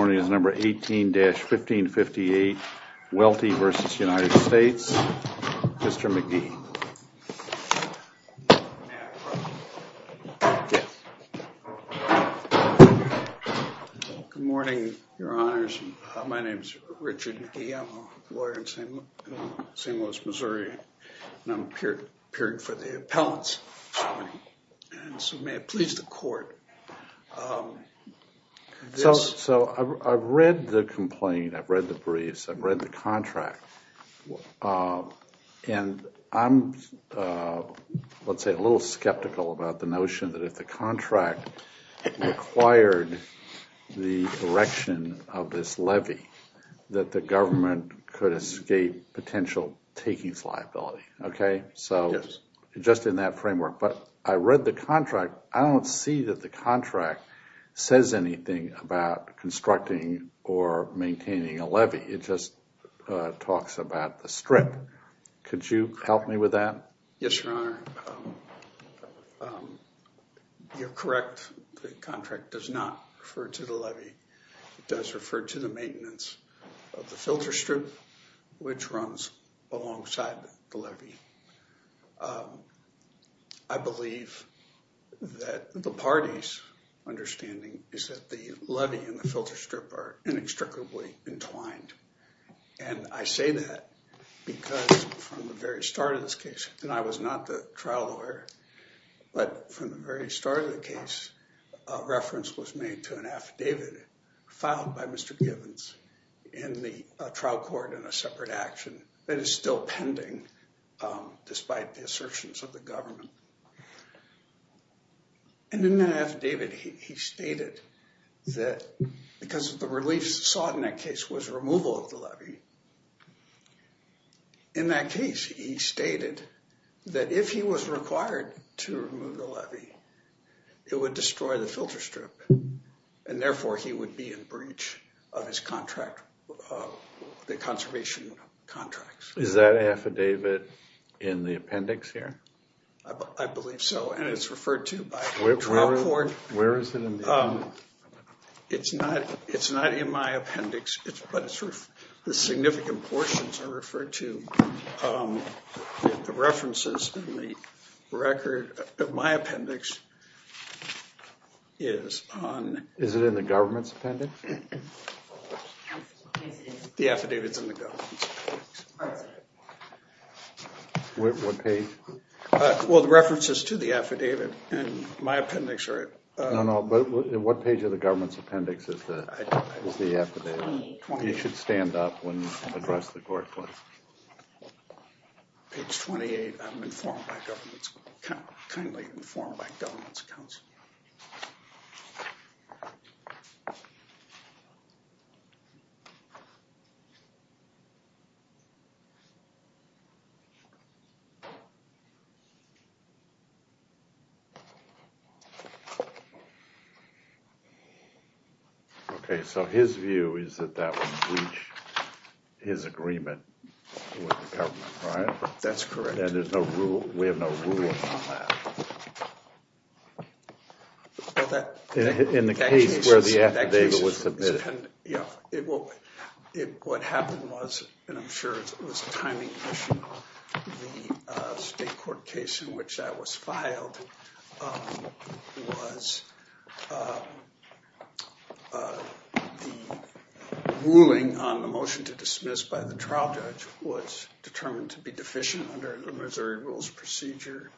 United States 18-1558 Wealthy vs. United States. Mr. McGee. Good morning, your honors. My name is Richard McGee. I'm a lawyer in St. Louis, Missouri and I'm appearing for the appellants. So may I please the court. So I've read the complaint, I've read the briefs, I've read the contract, and I'm, let's say, a little skeptical about the notion that if the contract required the erection of this levy that the government could escape potential takings liability, so just in that framework. But I read the contract. I don't see that the contract says anything about constructing or maintaining a levy. It just talks about the strip. Could you help me with that? Yes, your honor. You're correct. The contract does not refer to the levy. It does not refer to the levy. I believe that the party's understanding is that the levy and the filter strip are inextricably entwined. And I say that because from the very start of this case, and I was not the trial lawyer, but from the very start of the case, a reference was made to an affidavit filed by Mr. Gibbons in the trial court in a separate action that is still pending despite the assertions of the government. And in that affidavit, he stated that because the relief sought in that case was removal of the levy. In that case, he stated that if he was required to be in breach of his contract, the conservation contracts. Is that affidavit in the appendix here? I believe so, and it's referred to by the trial court. Where is it in the appendix? It's not in my appendix, but the significant portions are referred to. The references in the record of my appendix? The affidavit's in the government's appendix. What page? Well, the references to the affidavit in my appendix are... No, no, but what page of the government's appendix is the affidavit? It should stand up when addressed the court. Page 28, I'm informed by government's...kindly informed by government's counsel. Okay, so his view is that that would breach his agreement with the government, right? That's correct. And we have no ruling on that? In the case where the affidavit was submitted? Yeah, what happened was, and I'm sure it was a timing issue, the state court case in which that was filed was the ruling on the motion to dismiss by the trial judge was determined to be deficient under the Missouri Rules procedure.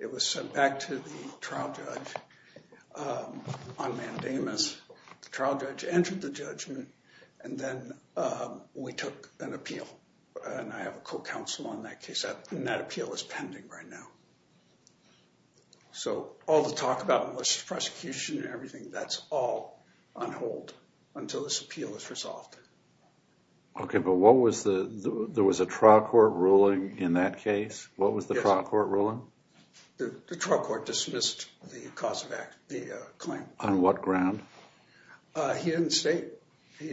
It was sent back to the trial judge on mandamus. The trial judge entered the judgment, and then we took an appeal. And I have a co-counsel on that case, and that appeal is pending right now. So, all the talk about most prosecution and everything, that's all on hold until this appeal is resolved. Okay, but what was the...there was a trial court ruling in that case? What was the trial court ruling? The trial court dismissed the cause of act, the claim. On what ground? He didn't state. He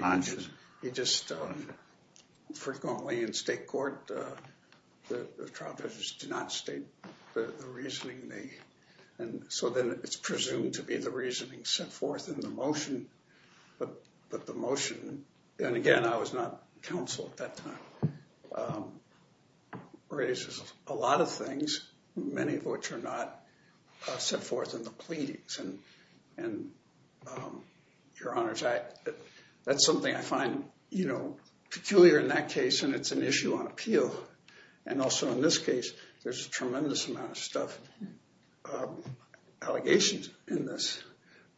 just...frequently in state court, the trial judges do not state the reasoning. And so then it's presumed to be the reasoning set forth in the motion. But the motion, and again, I was not counsel at that time, raises a lot of things, many of which are not set forth in the pleadings. And your honors, that's something I find peculiar in that case, and it's an issue on appeal. And also in this case, there's a tremendous amount of stuff, allegations in this,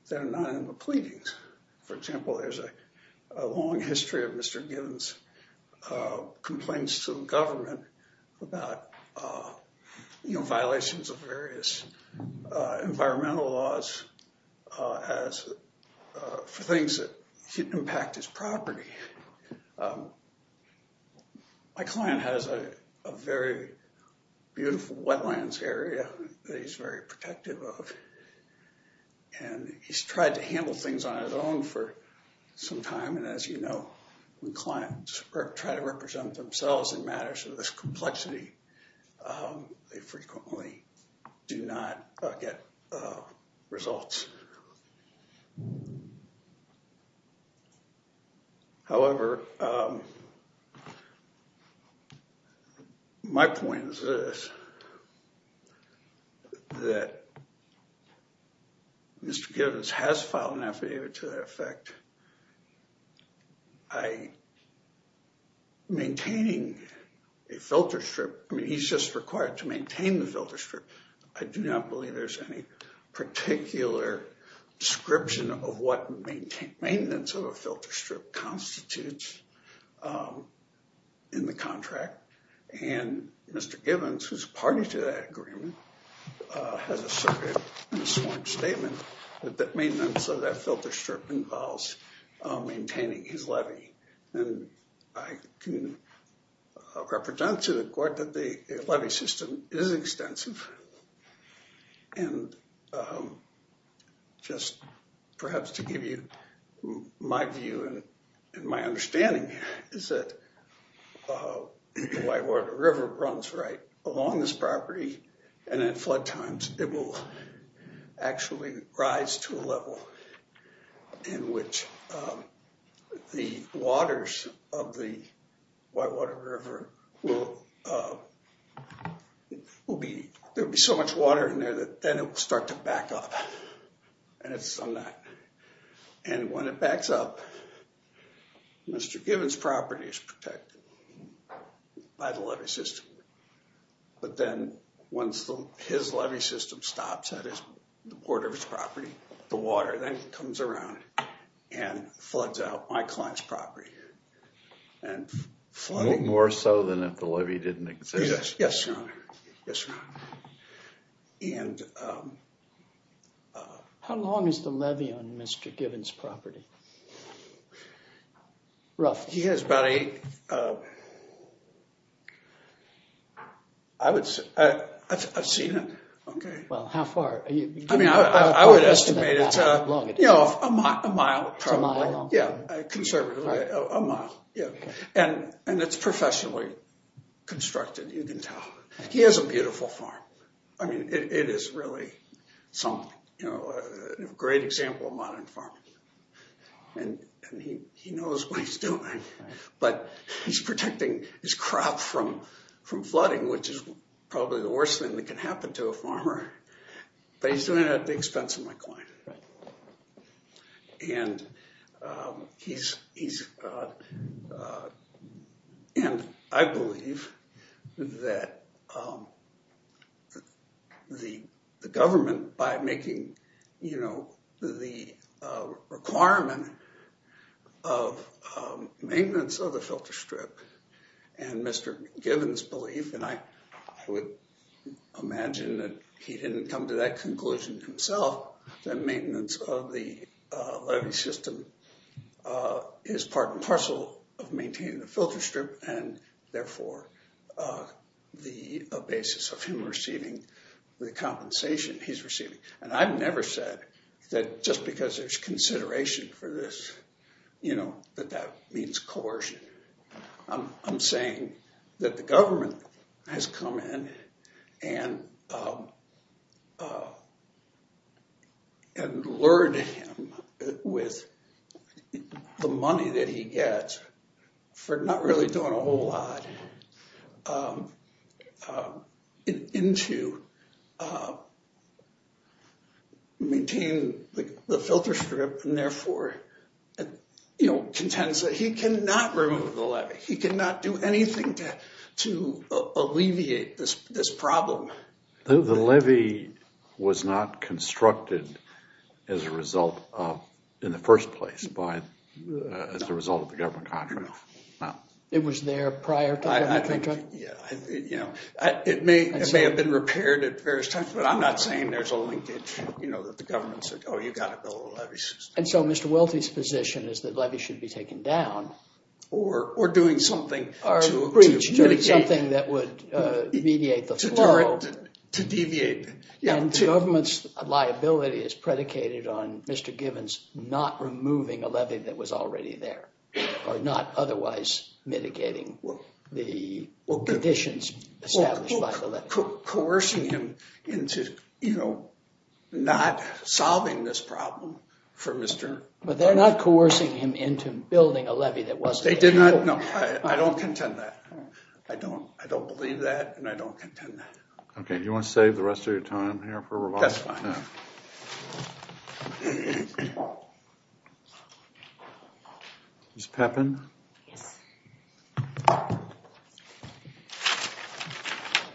that are not in the pleadings. For example, there's a long history of Mr. Gibbons' complaints to the government about violations of various environmental laws for things that impact his property. My client has a very beautiful wetlands area that he's very protective of. And he's tried to handle things on his own for some time, and as you know, when clients try to represent themselves in matters of this complexity, they frequently do not get results. However, my point is this, that Mr. Gibbons has filed an affidavit to that effect. I, maintaining a filter strip, he's just required to maintain the filter strip. I do not believe there's any particular description of what maintenance of a filter strip constitutes in the contract. And Mr. Gibbons, who's party to that agreement, has asserted in a sworn statement that maintenance of that filter strip involves maintaining his levy. And I can represent to the court that the levy system is extensive. And just perhaps to give you my view and my understanding, is that the Whitewater River runs right along this property. And at flood times, it will actually rise to a level in which the waters of the Whitewater River will be, there will be so much water in there that then it will start to back up. And when it backs up, Mr. Gibbons' property is protected by the levy system. But then once his levy system stops at the border of his property, the water then comes around and floods out my client's property. More so than if the levy didn't exist. Yes, Your Honor. Yes, Your Honor. How long is the levy on Mr. Gibbons' property? Roughly. He has about a, I would say, I've seen it. Okay. Well, how far? I mean, I would estimate it's a mile, probably. A mile long? You can tell. He has a beautiful farm. I mean, it is really a great example of modern farming. And he knows what he's doing. But he's protecting his crop from flooding, which is probably the worst thing that can happen to a farmer. But he's doing it at the expense of my client. And I believe that the government, by making the requirement of maintenance of the filter strip, and Mr. Gibbons' belief, and I would imagine that he didn't come to that conclusion himself, that maintenance of the levy system is part and parcel of maintaining the filter strip, and therefore the basis of him receiving the compensation he's receiving. And I've never said that just because there's consideration for this, you know, that that means coercion. I'm saying that the government has come in and lured him with the money that he gets for not really doing a whole lot into maintaining the filter strip, and therefore contends that he cannot remove the levy. He cannot do anything to alleviate this problem. The levy was not constructed as a result of, in the first place, as a result of the government contract. It was there prior to the government contract? It may have been repaired at various times, but I'm not saying there's a linkage, you know, that the government said, oh, you've got to build a levy system. And so Mr. Welty's position is that levy should be taken down. Or doing something to mediate. Something that would mediate the flow. To deviate. And the government's liability is predicated on Mr. Givens not removing a levy that was already there. Or not otherwise mitigating the conditions established by the levy. Coercing him into, you know, not solving this problem for Mr. But they're not coercing him into building a levy that wasn't there. They did not. No, I don't contend that. I don't believe that, and I don't contend that. Okay, you want to save the rest of your time here for. Is Peppin.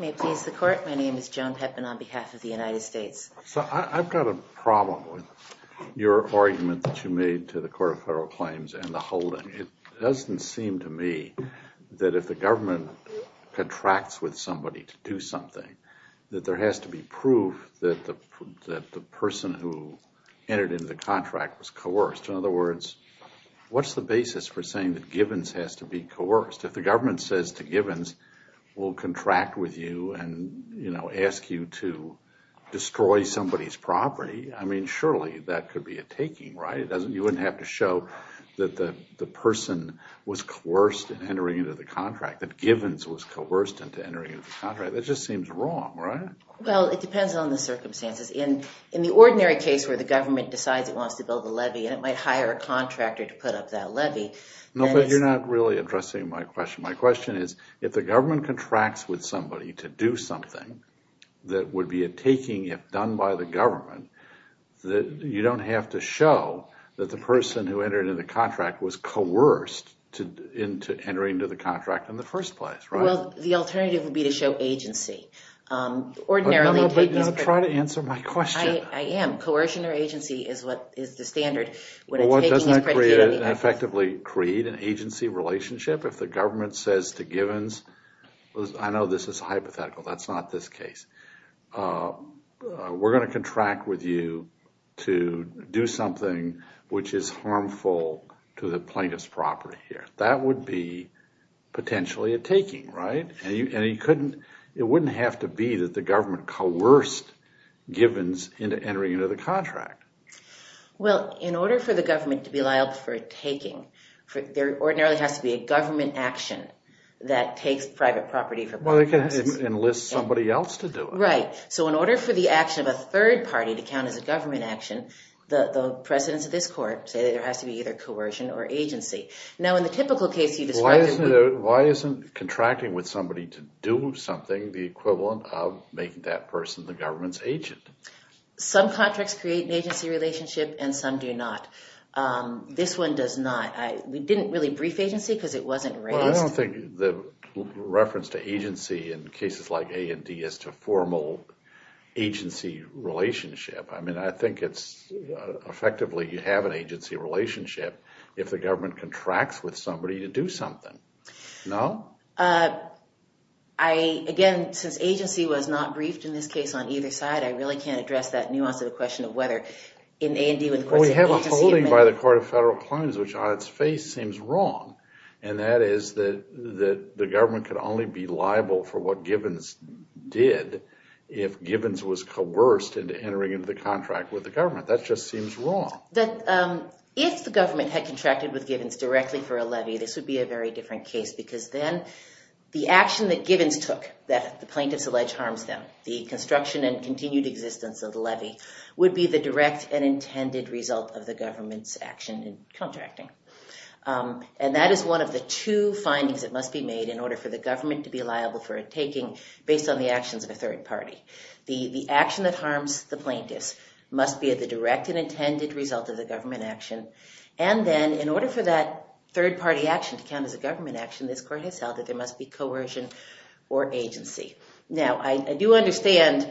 May please the court. My name is Joan Peppin on behalf of the United States. So I've got a problem with your argument that you made to the court of federal claims and the holding. It doesn't seem to me that if the government contracts with somebody to do something. That there has to be proof that the person who entered into the contract was coerced. In other words, what's the basis for saying that Givens has to be coerced? If the government says to Givens, we'll contract with you and, you know, ask you to destroy somebody's property. I mean, surely that could be a taking, right? You wouldn't have to show that the person was coerced into entering into the contract. That Givens was coerced into entering into the contract. That just seems wrong, right? Well, it depends on the circumstances. In the ordinary case where the government decides it wants to build a levy and it might hire a contractor to put up that levy. No, but you're not really addressing my question. My question is if the government contracts with somebody to do something. That would be a taking if done by the government. You don't have to show that the person who entered into the contract was coerced into entering into the contract in the first place, right? Well, the alternative would be to show agency. No, no, but try to answer my question. I am. Coercion or agency is the standard. Well, doesn't that effectively create an agency relationship? If the government says to Givens, I know this is hypothetical. That's not this case. We're going to contract with you to do something which is harmful to the plaintiff's property here. That would be potentially a taking, right? And it wouldn't have to be that the government coerced Givens into entering into the contract. Well, in order for the government to be liable for a taking, there ordinarily has to be a government action that takes private property. Well, they can enlist somebody else to do it. Right. So in order for the action of a third party to count as a government action, the precedents of this court say that there has to be either coercion or agency. Now, in the typical case you described. Why isn't contracting with somebody to do something the equivalent of making that person the government's agent? Some contracts create an agency relationship and some do not. This one does not. We didn't really brief agency because it wasn't raised. Well, I don't think the reference to agency in cases like A&D is to formal agency relationship. I mean, I think it's effectively you have an agency relationship if the government contracts with somebody to do something. No? Again, since agency was not briefed in this case on either side, I really can't address that nuance of the question of whether in A&D when the courts say agency. What you're quoting by the Court of Federal Claims, which on its face seems wrong, and that is that the government can only be liable for what Gibbons did if Gibbons was coerced into entering into the contract with the government. That just seems wrong. If the government had contracted with Gibbons directly for a levy, this would be a very different case because then the action that Gibbons took that the plaintiffs allege harms them, the construction and continued existence of the levy, would be the direct and intended result of the government's action in contracting. And that is one of the two findings that must be made in order for the government to be liable for a taking based on the actions of a third party. The action that harms the plaintiffs must be the direct and intended result of the government action. And then in order for that third party action to count as a government action, this court has held that there must be coercion or agency. Now, I do understand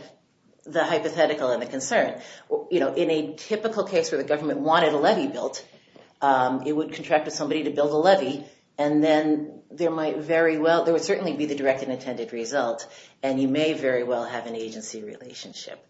the hypothetical and the concern. You know, in a typical case where the government wanted a levy built, it would contract with somebody to build a levy, and then there might very well, there would certainly be the direct and intended result, and you may very well have an agency relationship.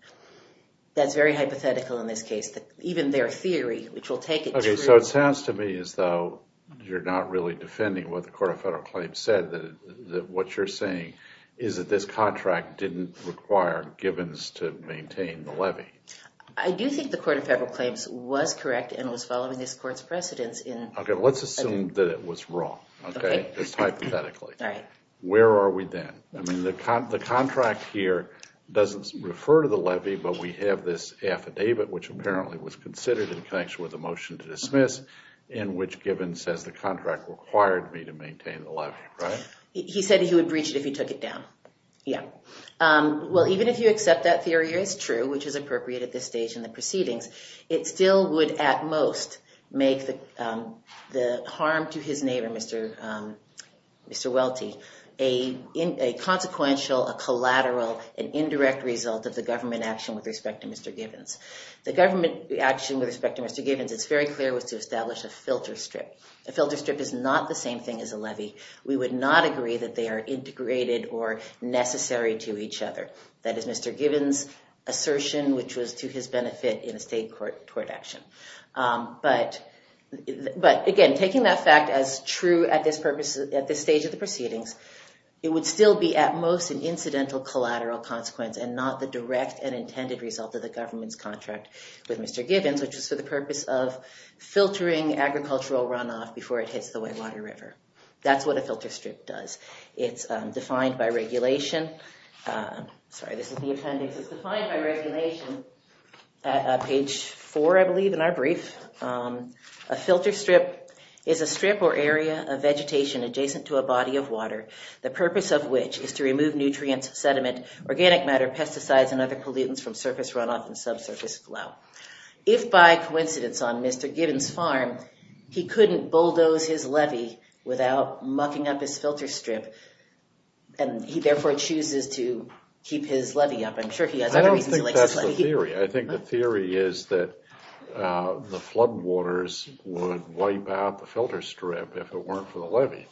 That's very hypothetical in this case. Even their theory, which will take it to... Okay, so it sounds to me as though you're not really defending what the Court of Federal Claims said, that what you're saying is that this contract didn't require Gibbons to maintain the levy. I do think the Court of Federal Claims was correct and was following this court's precedence in... Okay, let's assume that it was wrong. Okay. Just hypothetically. All right. Where are we then? I mean, the contract here doesn't refer to the levy, but we have this affidavit, which apparently was considered in connection with the motion to dismiss, in which Gibbons says the contract required me to maintain the levy, right? He said he would breach it if he took it down. Yeah. Well, even if you accept that theory is true, which is appropriate at this stage in the proceedings, it still would at most make the harm to his neighbor, Mr. Welty, a consequential, a collateral, an indirect result of the government action with respect to Mr. Gibbons. The government action with respect to Mr. Gibbons, it's very clear, was to establish a filter strip. A filter strip is not the same thing as a levy. We would not agree that they are integrated or necessary to each other. That is Mr. Gibbons' assertion, which was to his benefit in a state court action. But, again, taking that fact as true at this stage of the proceedings, it would still be at most an incidental collateral consequence and not the direct and intended result of the government's contract with Mr. Gibbons, which was for the purpose of filtering agricultural runoff before it hits the Whitewater River. That's what a filter strip does. It's defined by regulation. Sorry, this is the appendix. It's defined by regulation at page four, I believe, in our brief. A filter strip is a strip or area of vegetation adjacent to a body of water, the purpose of which is to remove nutrients, sediment, organic matter, pesticides, and other pollutants from surface runoff and subsurface flow. If by coincidence on Mr. Gibbons' farm, he couldn't bulldoze his levy without mucking up his filter strip, and he therefore chooses to keep his levy up. I'm sure he has other reasons he likes his levy. I don't think that's the theory. I think the theory is that the floodwaters would wipe out the filter strip if it weren't for the levy.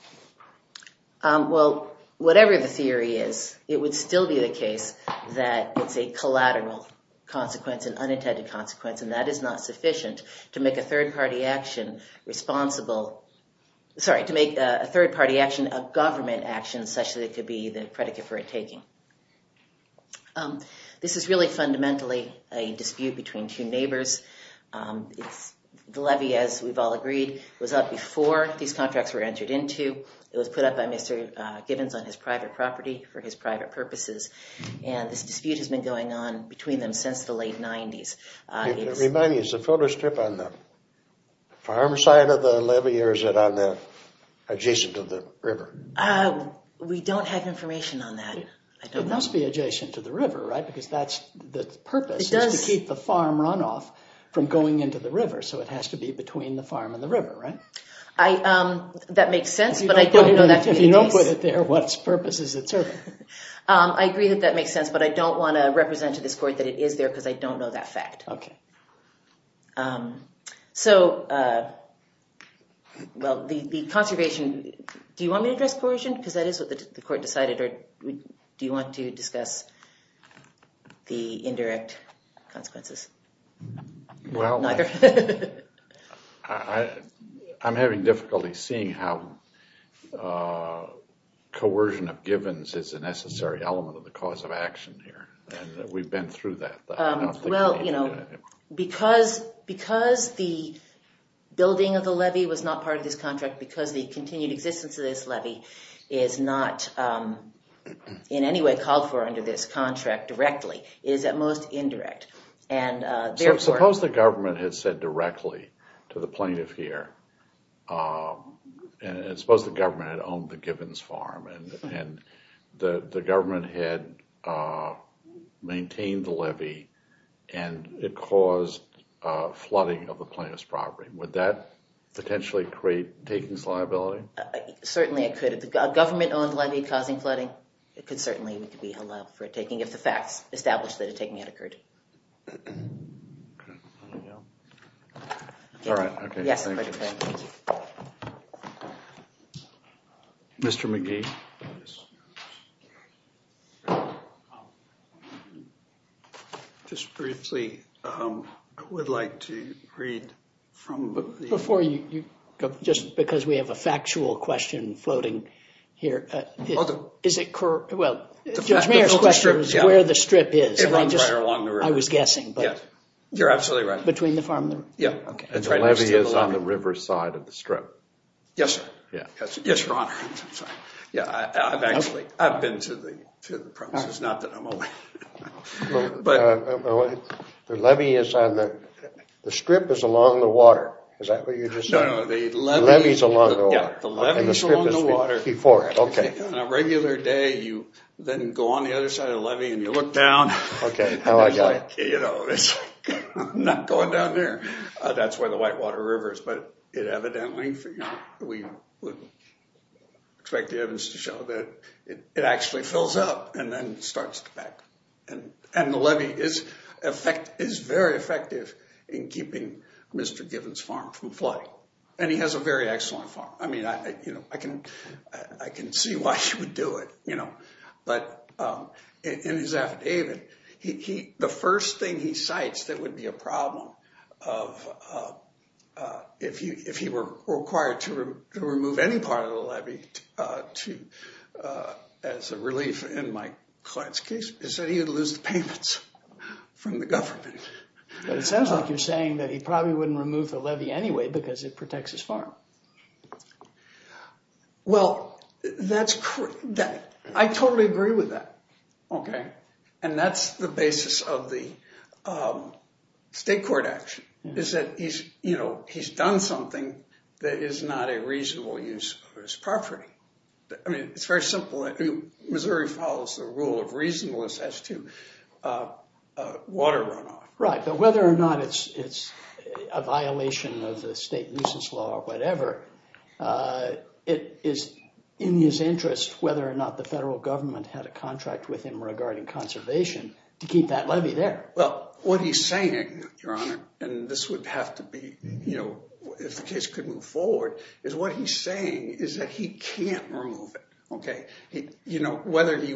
Well, whatever the theory is, it would still be the case that it's a collateral consequence, an unintended consequence, and that is not sufficient to make a third-party action responsible. Sorry, to make a third-party action a government action such that it could be the predicate for a taking. This is really fundamentally a dispute between two neighbors. The levy, as we've all agreed, was up before these contracts were entered into. It was put up by Mr. Gibbons on his private property for his private purposes, and this dispute has been going on between them since the late 90s. Remind me, is the filter strip on the farm side of the levy or is it adjacent to the river? We don't have information on that. It must be adjacent to the river, right, because the purpose is to keep the farm runoff from going into the river, so it has to be between the farm and the river, right? That makes sense, but I don't know that to be the case. If you don't put it there, what purpose is it serving? I agree that that makes sense, but I don't want to represent to this court that it is there because I don't know that fact. So, well, the conservation, do you want me to address coercion because that is what the court decided, or do you want to discuss the indirect consequences? Well, I'm having difficulty seeing how coercion of Gibbons is a necessary element of the cause of action here, and we've been through that. Well, because the building of the levy was not part of this contract, because the continued existence of this levy is not in any way called for under this contract directly, it is at most indirect. So suppose the government had said directly to the plaintiff here, and suppose the government had owned the Gibbons farm, and the government had maintained the levy and it caused flooding of the plaintiff's property. Would that potentially create takings liability? Certainly it could. If the government owned the levy causing flooding, it could certainly be allowed for a taking, if the facts establish that a taking had occurred. All right. Okay. Yes. Mr. McGee? Just briefly, I would like to read from the... Before you, just because we have a factual question floating here. Is it correct? Well, Judge Mayer's question was where the strip is. It runs right along the river. I was guessing, but... You're absolutely right. Between the farm and the river. Yeah. And the levy is on the river side of the strip. Yes, sir. Yeah. Yes, Your Honor. Yeah, I've actually, I've been to the premises, not that I'm aware. But... The levy is on the, the strip is along the water. Is that what you're just saying? No, no, the levy... The levy's along the water. Yeah, the levy's along the water. Before, okay. On a regular day, you then go on the other side of the levy and you look down. Okay, now I got it. You know, it's like, I'm not going down there. That's where the Whitewater River is. But it evidently, you know, we would expect the evidence to show that it actually fills up and then starts to back. And the levy is very effective in keeping Mr. Gibbons' farm from flooding. And he has a very excellent farm. I mean, you know, I can see why he would do it, you know. But in his affidavit, he, the first thing he cites that would be a problem of, if he were required to remove any part of the levy to, as a relief in my client's case, is that he would lose the payments from the government. But it sounds like you're saying that he probably wouldn't remove the levy anyway because it protects his farm. Well, that's correct. I totally agree with that. Okay. And that's the basis of the state court action, is that he's, you know, he's done something that is not a reasonable use of his property. I mean, it's very simple. Missouri follows the rule of reasonableness as to water runoff. Right. But whether or not it's a violation of the state nuisance law or whatever, it is in his interest whether or not the federal government had a contract with him regarding conservation to keep that levy there. Well, what he's saying, Your Honor, and this would have to be, you know, if the case could move forward, is what he's saying is that he can't remove it. Okay. You know, whether he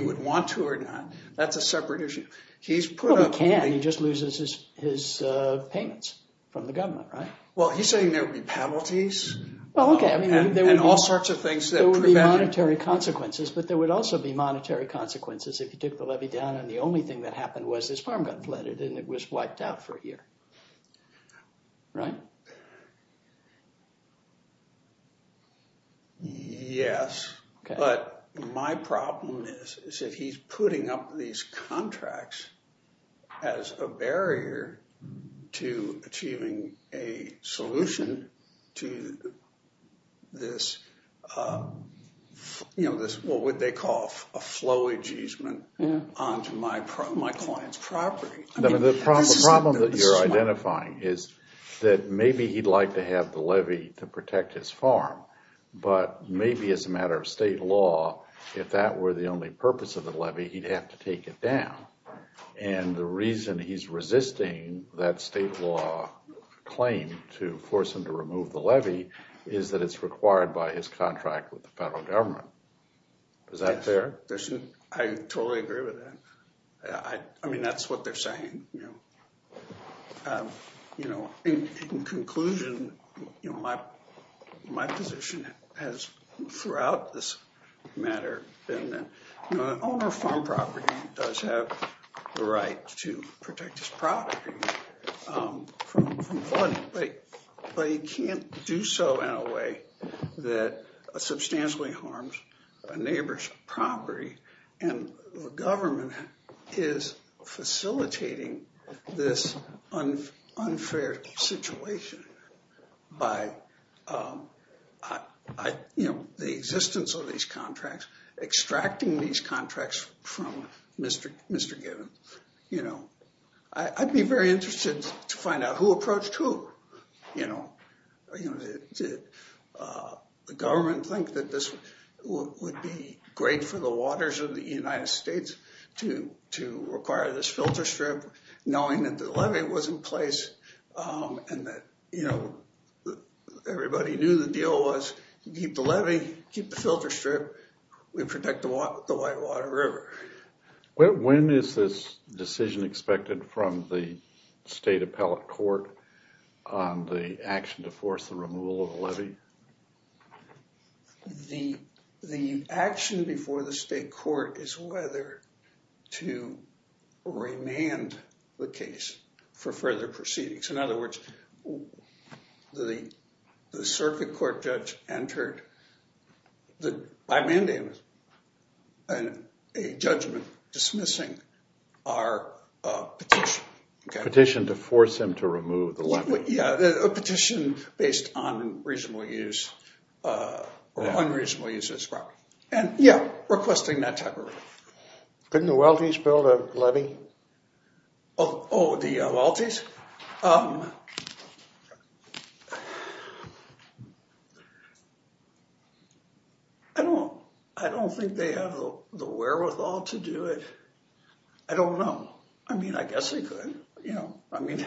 would want to or not, that's a separate issue. He probably can. He just loses his payments from the government, right? Well, he's saying there would be penalties. Well, okay. And all sorts of things that prevent it. There would be monetary consequences, but there would also be monetary consequences if he took the levy down and the only thing that happened was his farm got flooded and it was wiped out for a year. Right? Yes. Okay. But my problem is, is that he's putting up these contracts as a barrier to achieving a solution to this, you know, this what would they call a flow easement onto my client's property. The problem that you're identifying is that maybe he'd like to have the levy to protect his farm, but maybe as a matter of state law, if that were the only purpose of the levy, he'd have to take it down. And the reason he's resisting that state law claim to force him to remove the levy is that it's required by his contract with the federal government. Is that fair? I totally agree with that. I mean, that's what they're saying, you know. You know, in conclusion, you know, my position has throughout this matter been that, you know, the owner of a farm property does have the right to protect his property from flooding. But he can't do so in a way that substantially harms a neighbor's property. And the government is facilitating this unfair situation by, you know, the existence of these contracts, extracting these contracts from Mr. Gibbons, you know. I'd be very interested to find out who approached who, you know. Did the government think that this would be great for the waters of the United States to require this filter strip, knowing that the levy was in place and that, you know, everybody knew the deal was keep the levy, keep the filter strip, we protect the Whitewater River. When is this decision expected from the state appellate court on the action to force the removal of the levy? The action before the state court is whether to remand the case for further proceedings. In other words, the circuit court judge entered by mandamus a judgment dismissing our petition. Petition to force him to remove the levy. But yeah, a petition based on reasonable use or unreasonable use of this property. And yeah, requesting that type of relief. Couldn't the Welty's build a levy? Oh, the Welty's? I don't think they have the wherewithal to do it. I don't know. I mean, I guess, you know, I mean,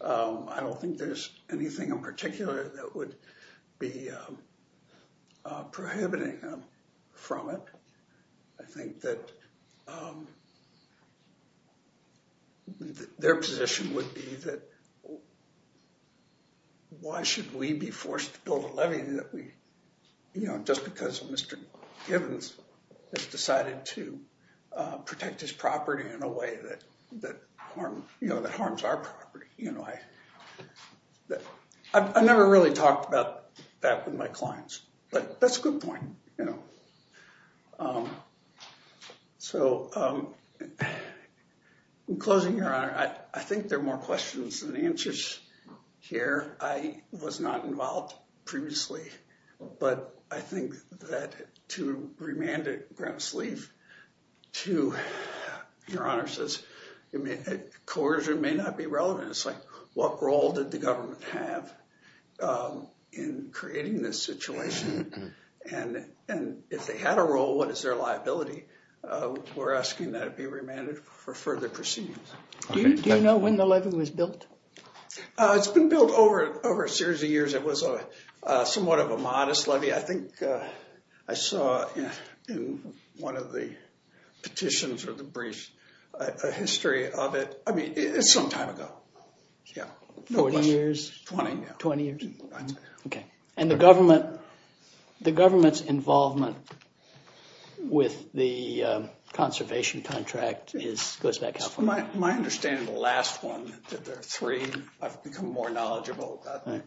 I don't think there's anything in particular that would be prohibiting from it. I think that their position would be that why should we be forced to build a levy that we, you know, just because Mr. Givens has decided to protect his property in a way that harms our property. You know, I never really talked about that with my clients, but that's a good point. You know, so I'm closing your honor. I think there are more questions than answers here. I was not involved previously, but I think that to remand it ground sleeve to your honor says coercion may not be relevant. What role did the government have in creating this situation? And if they had a role, what is their liability? We're asking that it be remanded for further proceedings. Do you know when the levy was built? It's been built over a series of years. It was somewhat of a modest levy. I think I saw in one of the petitions or the brief a history of it. I mean, it's some time ago. Yeah. Forty years? Twenty. Twenty years. Okay. And the government's involvement with the conservation contract goes back how far? My understanding of the last one that there are three, I've become more knowledgeable about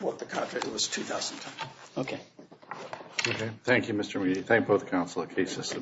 what the contract was 2000. Okay. Thank you, Mr. We thank both counsel cases.